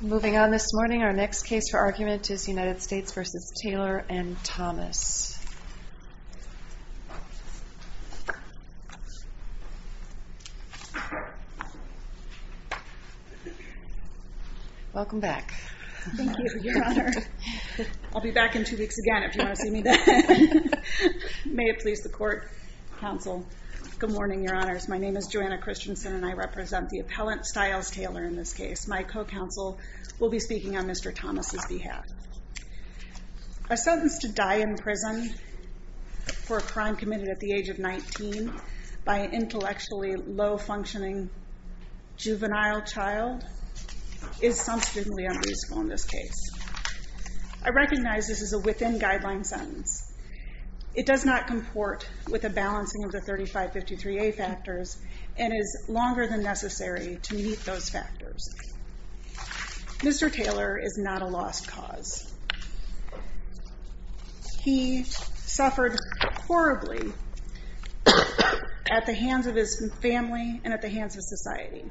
Moving on this morning, our next case for argument is United States v. Taylor and Thomas. Welcome back. Thank you, your honor. I'll be back in two weeks again if you want to see me then. May it please the court, counsel. Good morning, your honors. My name is Joanna Christensen and I represent the appellant, Styles Taylor, in this case. My co-counsel will be speaking on Mr. Thomas' behalf. A sentence to die in prison for a crime committed at the age of 19 by an intellectually low-functioning juvenile child is substantially unreasonable in this case. I recognize this is a within-guideline sentence. It does not comport with the balancing of the 3553A factors and is longer than necessary to meet those factors. Mr. Taylor is not a lost cause. He suffered horribly at the hands of his family and at the hands of society.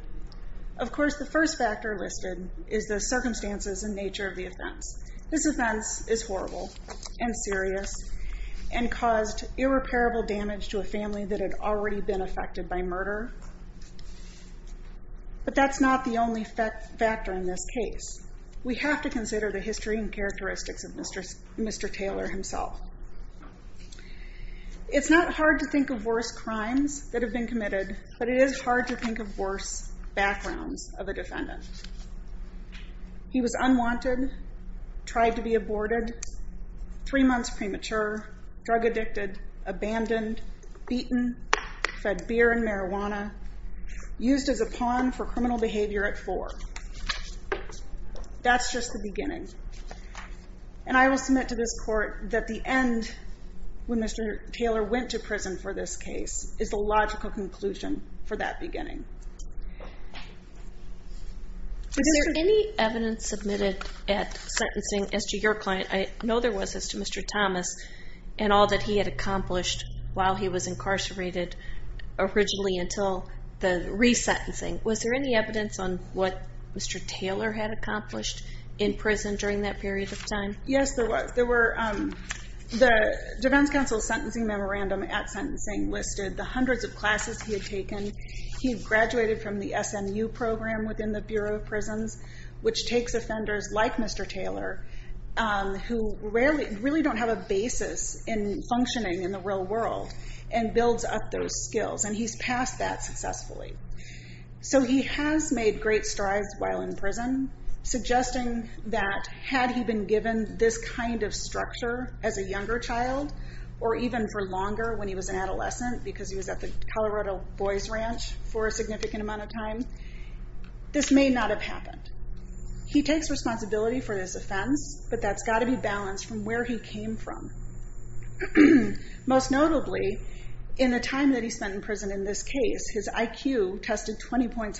Of course, the first factor listed is the circumstances and nature of the offense. This offense is horrible and serious and caused irreparable damage to a family that had already been affected by murder, but that's not the only factor in this case. We have to consider the history and characteristics of Mr. Taylor himself. It's not hard to think of worse crimes that have been committed, but it is hard to think of worse backgrounds of a defendant. He was unwanted, tried to be aborted, three months premature, drug-addicted, abandoned, beaten, fed beer and marijuana, used as a pawn for criminal behavior at four. That's just the beginning. And I will submit to this court that the end when Mr. Taylor went to prison for this case is the logical conclusion for that beginning. Is there any evidence submitted at sentencing as to your client? I know there was as to Mr. Thomas and all that he had accomplished while he was incarcerated originally until the resentencing. Was there any evidence on what Mr. Taylor had accomplished in prison during that period of time? Yes, there was. The defense counsel's sentencing memorandum at sentencing listed the hundreds of classes he had taken. He graduated from the SMU program within the Bureau of Prisons, which takes offenders like Mr. Taylor, who really don't have a basis in functioning in the real world, and builds up those skills. And he's passed that successfully. So he has made great strides while in prison, suggesting that had he been given this kind of structure as a younger child, or even for longer when he was an adolescent because he was at the Colorado Boys Ranch for a significant amount of time, this may not have happened. He takes responsibility for this offense, but that's got to be balanced from where he came from. Most notably, in the time that he spent in prison in this case, his IQ tested 20 points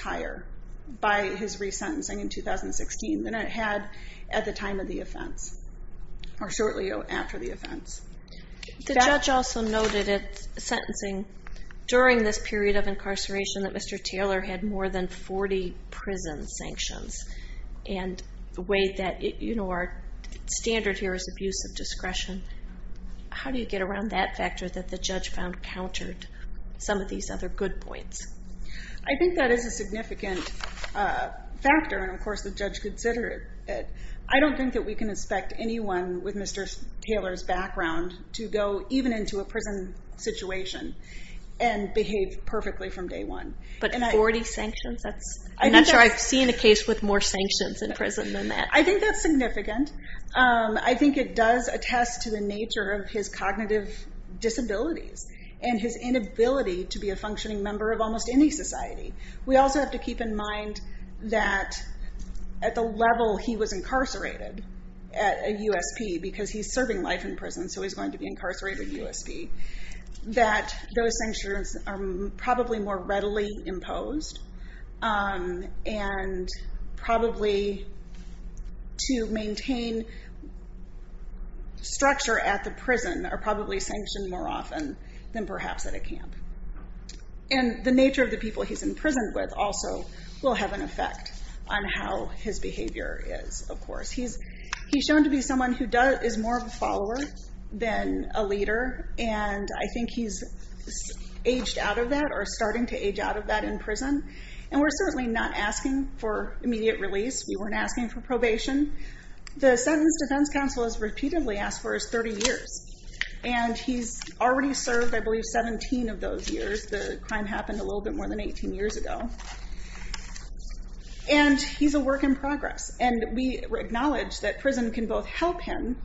by his resentencing in 2016 than it had at the time of the offense, or shortly after the offense. The judge also noted at sentencing during this period of incarceration that Mr. Taylor had more than 40 prison sanctions, and the way that, you know, our standard here is abuse of discretion. How do you get around that factor that the judge found countered some of these other good points? I think that is a significant factor, and of course the judge considered it. I don't think that we can expect anyone with Mr. Taylor's background to go even into a prison situation and behave perfectly from day one. But 40 sanctions? I'm not sure I've seen a case with more sanctions in prison than that. I think that's significant. I think it does attest to the nature of his cognitive disabilities and his inability to be a functioning member of almost any society. We also have to keep in mind that at the level he was incarcerated at USP, because he's serving life in prison, so he's going to be incarcerated at USP, that those sanctions are probably more readily imposed, and probably to maintain structure at the prison are probably sanctioned more often than perhaps at a camp. And the nature of the people he's in prison with also will have an effect on how his behavior is, of course. He's shown to be someone who is more of a follower than a leader, and I think he's aged out of that or starting to age out of that in prison, and we're certainly not asking for immediate release. We weren't asking for probation. The Sentence Defense Council has repeatedly asked for his 30 years, and he's already served, I believe, 17 of those years. The crime happened a little bit more than 18 years ago. And he's a work in progress, and we acknowledge that prison can both help him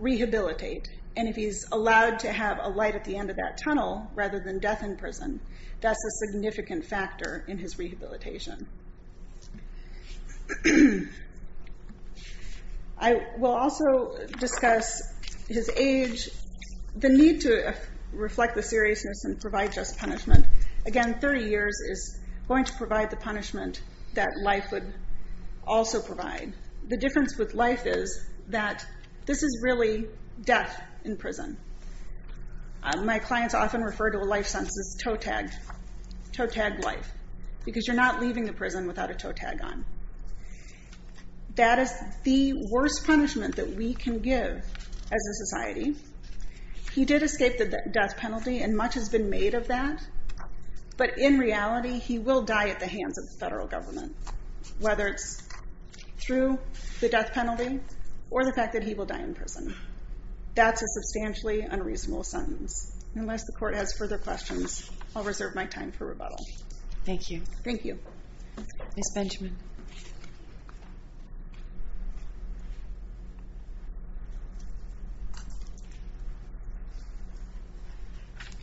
rehabilitate, and if he's allowed to have a light at the end of that tunnel rather than death in prison, that's a significant factor in his rehabilitation. I will also discuss his age, the need to reflect the seriousness and provide just punishment. Again, 30 years is going to provide the punishment that life would also provide. The difference with life is that this is really death in prison. My clients often refer to a life sentence as toe-tagged life, because you're not leaving the prison without a toe-tag on. That is the worst punishment that we can give as a society. He did escape the death penalty, and much has been made of that, but in reality, he will die at the hands of the federal government, whether it's through the death penalty or the fact that he will die in prison. That's a substantially unreasonable sentence. Unless the court has further questions, I'll reserve my time for rebuttal. Thank you. Thank you. Ms. Benjamin.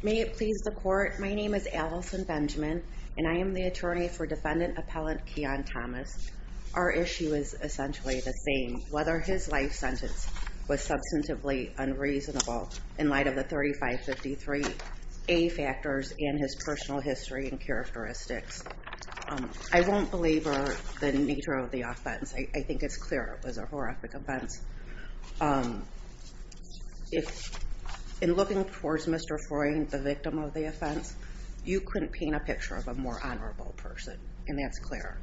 May it please the court, my name is Allison Benjamin, and I am the attorney for defendant appellant Keon Thomas. Our issue is essentially the same, whether his life sentence was substantively unreasonable in light of the 3553A factors and his personal history and characteristics. I don't belabor the nature of the offense, I think it's clear it was a horrific offense. In looking towards Mr. Freud, the victim of the offense, you couldn't paint a picture of a more honorable person, and that's clear.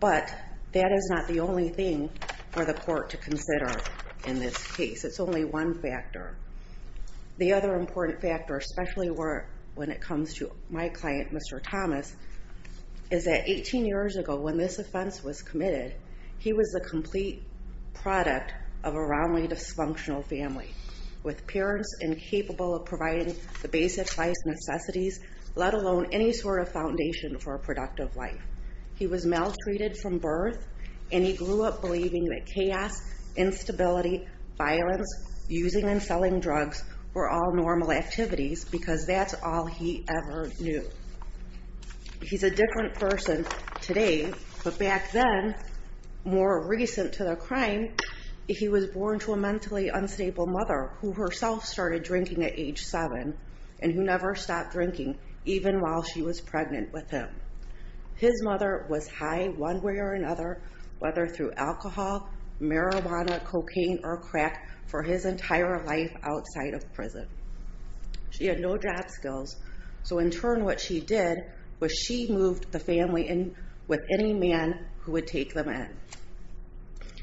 But that is not the only thing for the court to consider in this case. It's only one factor. The other important factor, especially when it comes to my client, Mr. Thomas, is that 18 years ago when this offense was committed, he was a complete product of a roundly dysfunctional family with parents incapable of providing the basic life necessities, let alone any sort of foundation for a productive life. He was maltreated from birth, and he grew up believing that chaos, instability, violence, using and selling drugs were all normal activities because that's all he ever knew. He's a different person today, but back then, more recent to the crime, he was born to a mentally unstable mother who herself started drinking at age seven and who never stopped drinking even while she was pregnant with him. His mother was high one way or another, whether through alcohol, marijuana, cocaine, or crack for his entire life outside of prison. She had no job skills, so in turn what she did was she moved the family in with any man who would take them in.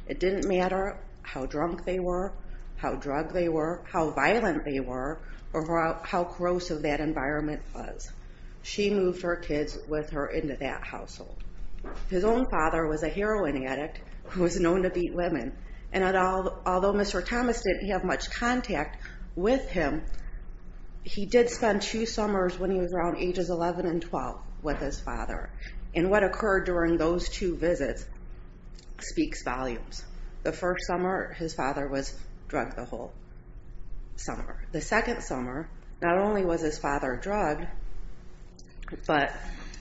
It didn't matter how drunk they were, how drugged they were, how violent they were, or how corrosive that environment was. She moved her kids with her into that household. His own father was a heroin addict who was known to beat women, and although Mr. Thomas didn't have much contact with him, he did spend two summers when he was around ages 11 and 12 with his father, and what occurred during those two visits speaks volumes. The first summer, his father was drugged the whole summer. The second summer, not only was his father drugged, but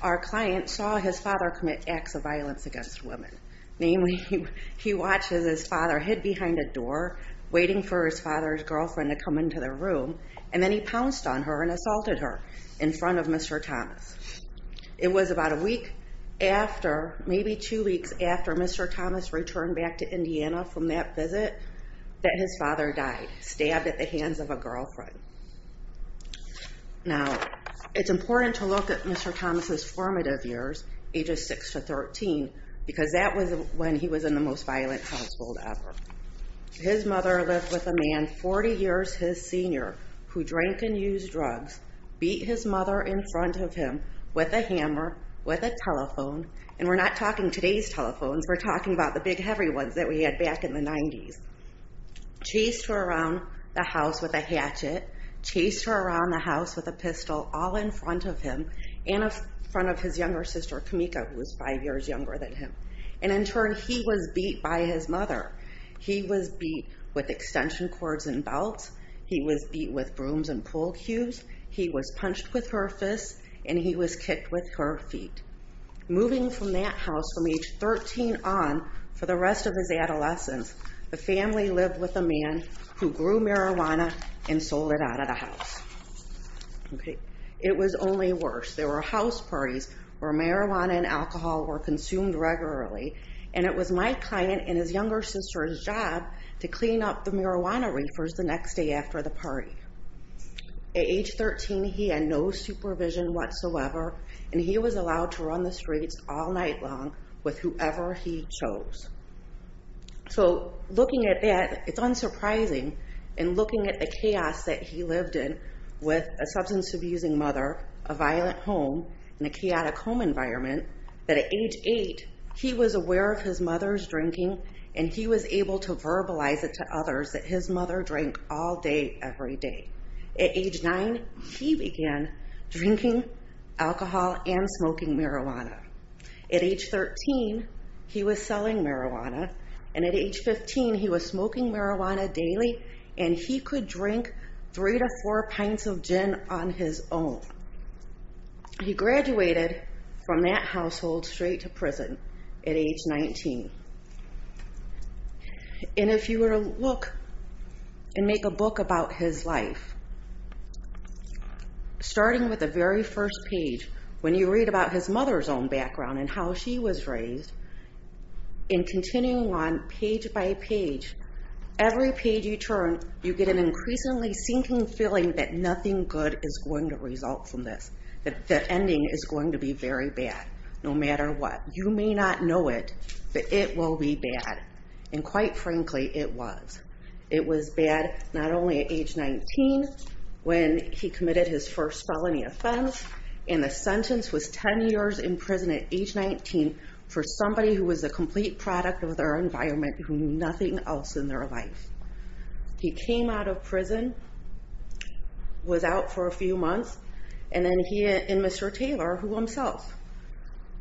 our client saw his father commit acts of violence against women, namely he watches his father hid behind a door waiting for his father's girlfriend to come into the room, and then he pounced on her and assaulted her in front of Mr. Thomas. It was about a week after, maybe two weeks after Mr. Thomas returned back to Indiana from that visit that his father died, stabbed at the hands of a girlfriend. Now it's important to look at Mr. Thomas' formative years, ages 6 to 13, because that was when he was in the most violent household ever. His mother lived with a man 40 years his senior who drank and used drugs, beat his mother in front of him with a hammer, with a telephone, and we're not talking today's telephones, we're talking about the big heavy ones that we had back in the 90s, chased her around the house with a hatchet, chased her around the house with a pistol all in front of him and in front of his younger sister, Kamika, who was five years younger than him, and in turn he was beat by his mother. He was beat with extension cords and belts. He was beat with brooms and pool cubes. He was punched with her fists, and he was kicked with her feet. Moving from that house from age 13 on for the rest of his adolescence, the family lived with a man who grew marijuana and sold it out of the house. It was only worse. There were house parties where marijuana and alcohol were consumed regularly, and it was my client and his younger sister's job to clean up the marijuana reefers the next day after the party. At age 13, he had no supervision whatsoever, and he was allowed to run the streets all night long with whoever he chose. So looking at that, it's unsurprising, and looking at the chaos that he lived in with a substance abusing mother, a violent home, and a chaotic home environment, that at age eight, he was aware of his mother's drinking, and he was able to verbalize it to others that his mother drank all day, every day. At age nine, he began drinking alcohol and smoking marijuana. At age 13, he was selling marijuana, and at age 15, he was smoking marijuana daily, and he could drink three to four pints of gin on his own. He graduated from that household straight to prison at age 19. And if you were to look and make a book about his life, starting with the very first page, when you read about his mother's own background and how she was raised, and continuing on page by page, every page you turn, you get an increasingly sinking feeling that nothing good is going to result from this, that the ending is going to be very bad, no matter what. You may not know it, but it will be bad, and quite frankly, it was. It was bad not only at age 19, when he committed his first felony offense, and the sentence was 10 years in prison at age 19 for somebody who was a complete product of their environment, who knew nothing else in their life. He came out of prison, was out for a few months, and then he and Mr. Taylor, who himself,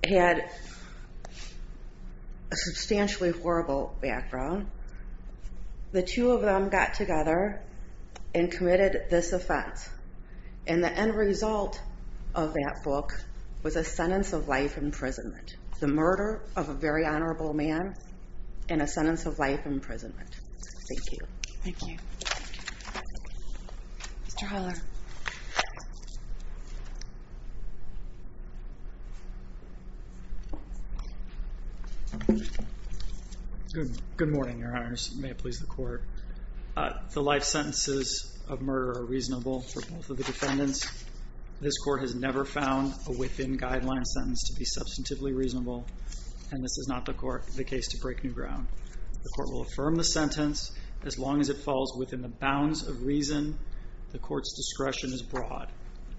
had a substantially horrible background, the two of them got together and committed this offense. And the end result of that book was a sentence of life imprisonment. The murder of a very honorable man, and a sentence of life imprisonment. Thank you. Thank you. Mr. Haller. Good morning, Your Honors. May it please the Court. The life sentences of murder are reasonable for both of the defendants. This Court has never found a within guideline sentence to be substantively reasonable, and this is not the case to break new ground. The Court will affirm the sentence as long as it falls within the bounds of reason the discretion is broad.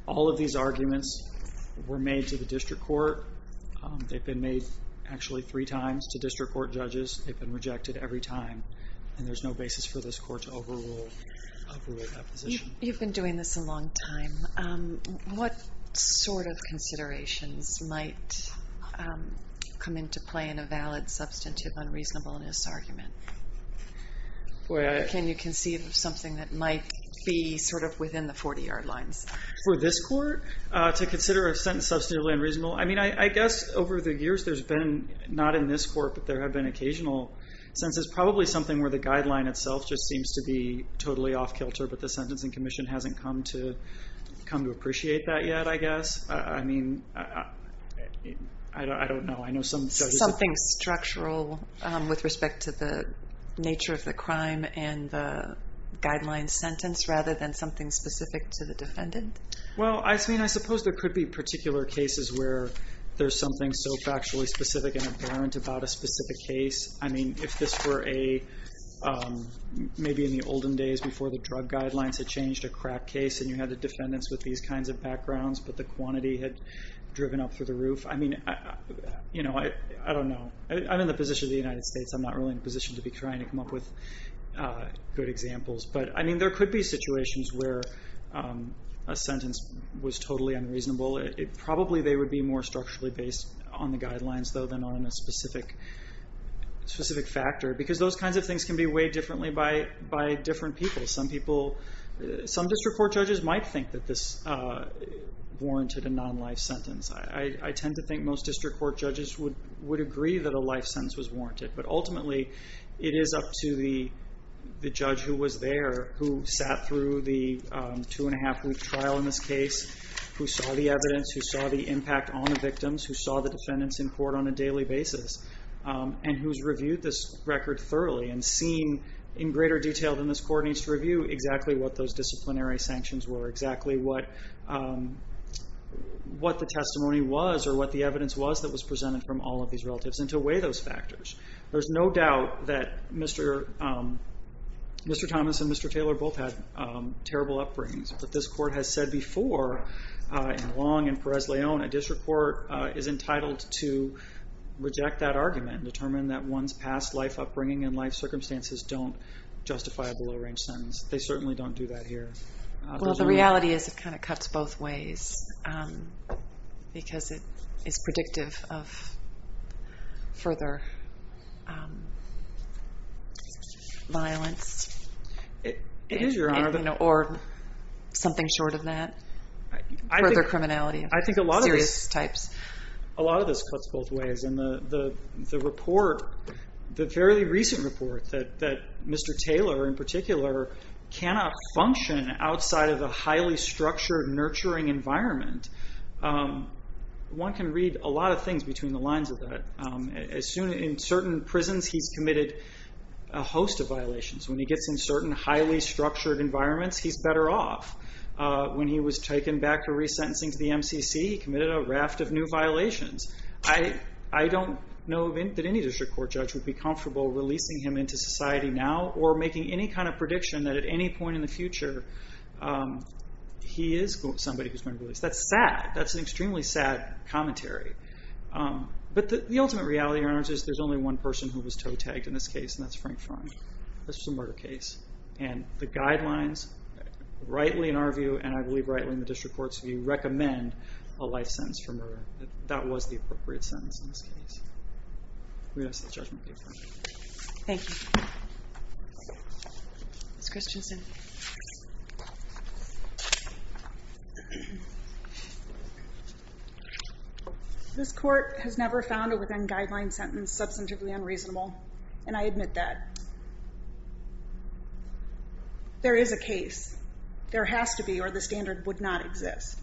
All of these arguments were made to the District Court. They've been made actually three times to District Court judges. They've been rejected every time, and there's no basis for this Court to overrule that position. You've been doing this a long time. What sort of considerations might come into play in a valid substantive unreasonableness argument? Can you conceive of something that might be sort of within the 40-yard lines? For this Court, to consider a sentence substantively unreasonable, I mean, I guess over the years there's been, not in this Court, but there have been occasional sentences, probably something where the guideline itself just seems to be totally off kilter, but the Sentencing Commission hasn't come to appreciate that yet, I guess. I mean, I don't know. Something structural with respect to the nature of the crime and the guideline sentence, rather than something specific to the defendant? Well, I mean, I suppose there could be particular cases where there's something so factually specific and apparent about a specific case. I mean, if this were a, maybe in the olden days before the drug guidelines had changed a crack case, and you had the defendants with these kinds of backgrounds, but the quantity had driven up through the roof, I mean, you know, I don't know. I'm in the position of the United States, I'm not really in a position to be trying to come up with good examples, but I mean, there could be situations where a sentence was totally unreasonable. Probably they would be more structurally based on the guidelines, though, than on a specific factor, because those kinds of things can be weighed differently by different people. Some people, some district court judges might think that this warranted a non-life sentence. I tend to think most district court judges would agree that a life sentence was warranted, but ultimately it is up to the judge who was there, who sat through the two and a half week trial in this case, who saw the evidence, who saw the impact on the victims, who saw the defendants in court on a daily basis, and who's reviewed this record thoroughly and seen in greater detail than this court needs to review exactly what those disciplinary sanctions were, exactly what the testimony was or what the evidence was that was presented from all of these relatives, and to weigh those factors. There's no doubt that Mr. Thomas and Mr. Taylor both had terrible upbringings, but this court has said before, in Long and Perez-Leon, a district court is entitled to reject that if circumstances don't justify a below-range sentence. They certainly don't do that here. Well, the reality is it kind of cuts both ways, because it is predictive of further violence, or something short of that, further criminality of serious types. A lot of this cuts both ways, and the report, the fairly recent report, that Mr. Taylor in particular cannot function outside of a highly structured, nurturing environment, one can read a lot of things between the lines of that. In certain prisons, he's committed a host of violations. When he gets in certain highly structured environments, he's better off. When he was taken back for resentencing to the MCC, he committed a raft of new violations. I don't know that any district court judge would be comfortable releasing him into society now, or making any kind of prediction that at any point in the future, he is somebody who's going to be released. That's sad. That's an extremely sad commentary, but the ultimate reality, Your Honors, is there's only one person who was toe-tagged in this case, and that's Frank Freund. This was a murder case, and the guidelines, rightly in our view, and I believe rightly in the district court's view, recommend a life sentence for murder. That was the appropriate sentence in this case. We're going to have to see the judgment paper. Thank you. Ms. Christensen. This court has never found a within-guideline sentence substantively unreasonable, and I believe there is a case. There has to be, or the standard would not exist.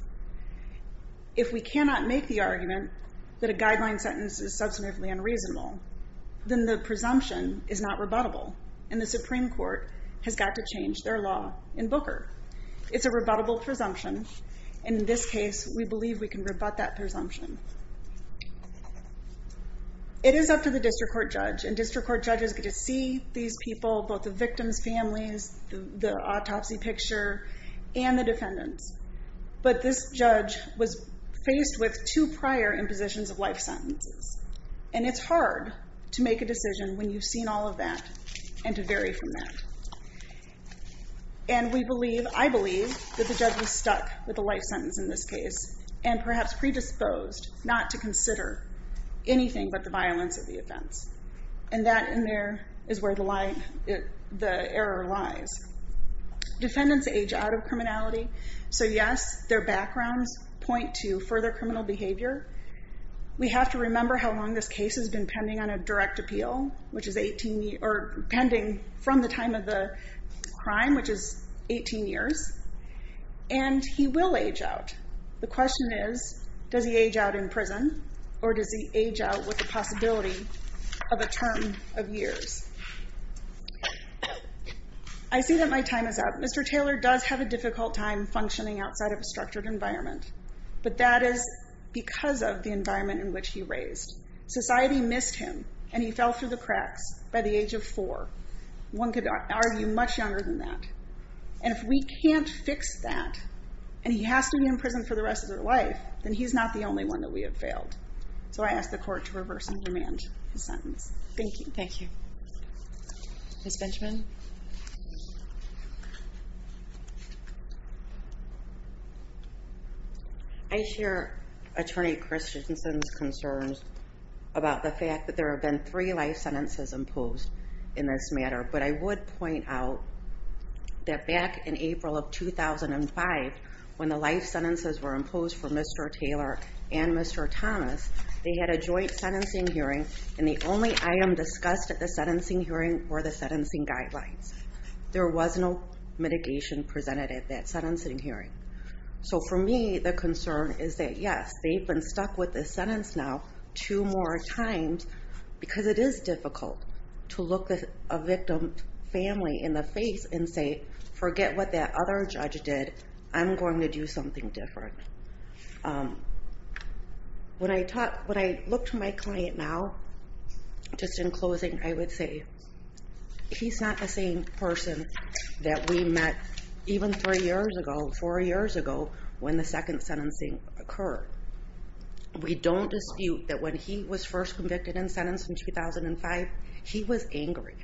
If we cannot make the argument that a guideline sentence is substantively unreasonable, then the presumption is not rebuttable, and the Supreme Court has got to change their law in Booker. It's a rebuttable presumption, and in this case, we believe we can rebut that presumption. It is up to the district court judge, and district court judges get to see these people, both the victims' families, the autopsy picture, and the defendants, but this judge was faced with two prior impositions of life sentences, and it's hard to make a decision when you've seen all of that and to vary from that, and I believe that the judge was stuck with the life sentence in this case and perhaps predisposed not to consider anything but the violence of the offense, and that in there is where the error lies. Defendants age out of criminality, so yes, their backgrounds point to further criminal behavior. We have to remember how long this case has been pending on a direct appeal, which is age out. The question is, does he age out in prison, or does he age out with the possibility of a term of years? I see that my time is up. Mr. Taylor does have a difficult time functioning outside of a structured environment, but that is because of the environment in which he raised. Society missed him, and he fell through the cracks by the age of four. One could argue much younger than that, and if we can't fix that and he has to be in prison for the rest of their life, then he's not the only one that we have failed. So I ask the court to reverse and demand his sentence. Thank you. Thank you. Ms. Benjamin? I share Attorney Christensen's concerns about the fact that there have been three life sentences imposed in this matter, but I would point out that back in April of 2005, when the life sentences were imposed for Mr. Taylor and Mr. Thomas, they had a joint sentencing hearing, and the only item discussed at the sentencing hearing were the sentencing guidelines. There was no mitigation presented at that sentencing hearing. So for me, the concern is that, yes, they've been stuck with this sentence now two more times, because it is difficult to look a victim family in the face and say, forget what that other judge did, I'm going to do something different. When I talk, when I look to my client now, just in closing, I would say, he's not the same person that we met even three years ago, four years ago, when the second sentencing occurred. We don't dispute that when he was first convicted and sentenced in 2005, he was angry.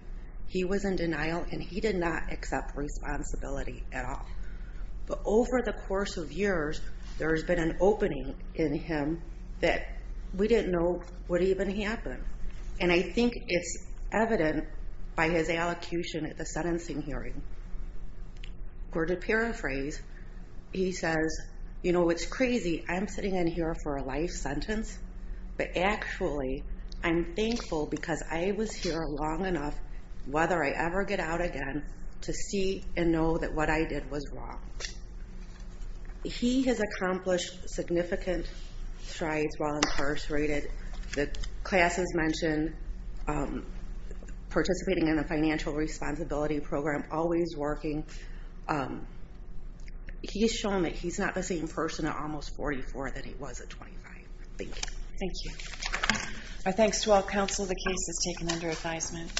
He was in denial, and he did not accept responsibility at all. But over the course of years, there has been an opening in him that we didn't know would even happen. And I think it's evident by his allocution at the sentencing hearing, where to paraphrase, he says, you know, it's crazy, I'm sitting in here for a life sentence, but actually, I'm thankful because I was here long enough, whether I ever get out again, to see and know that what I did was wrong. He has accomplished significant strides while incarcerated, the classes mentioned, participating in the financial responsibility program, always working. He's shown that he's not the same person at almost 44 that he was at 25. Thank you. Thank you. Our thanks to all counsel, the case is taken under advisement.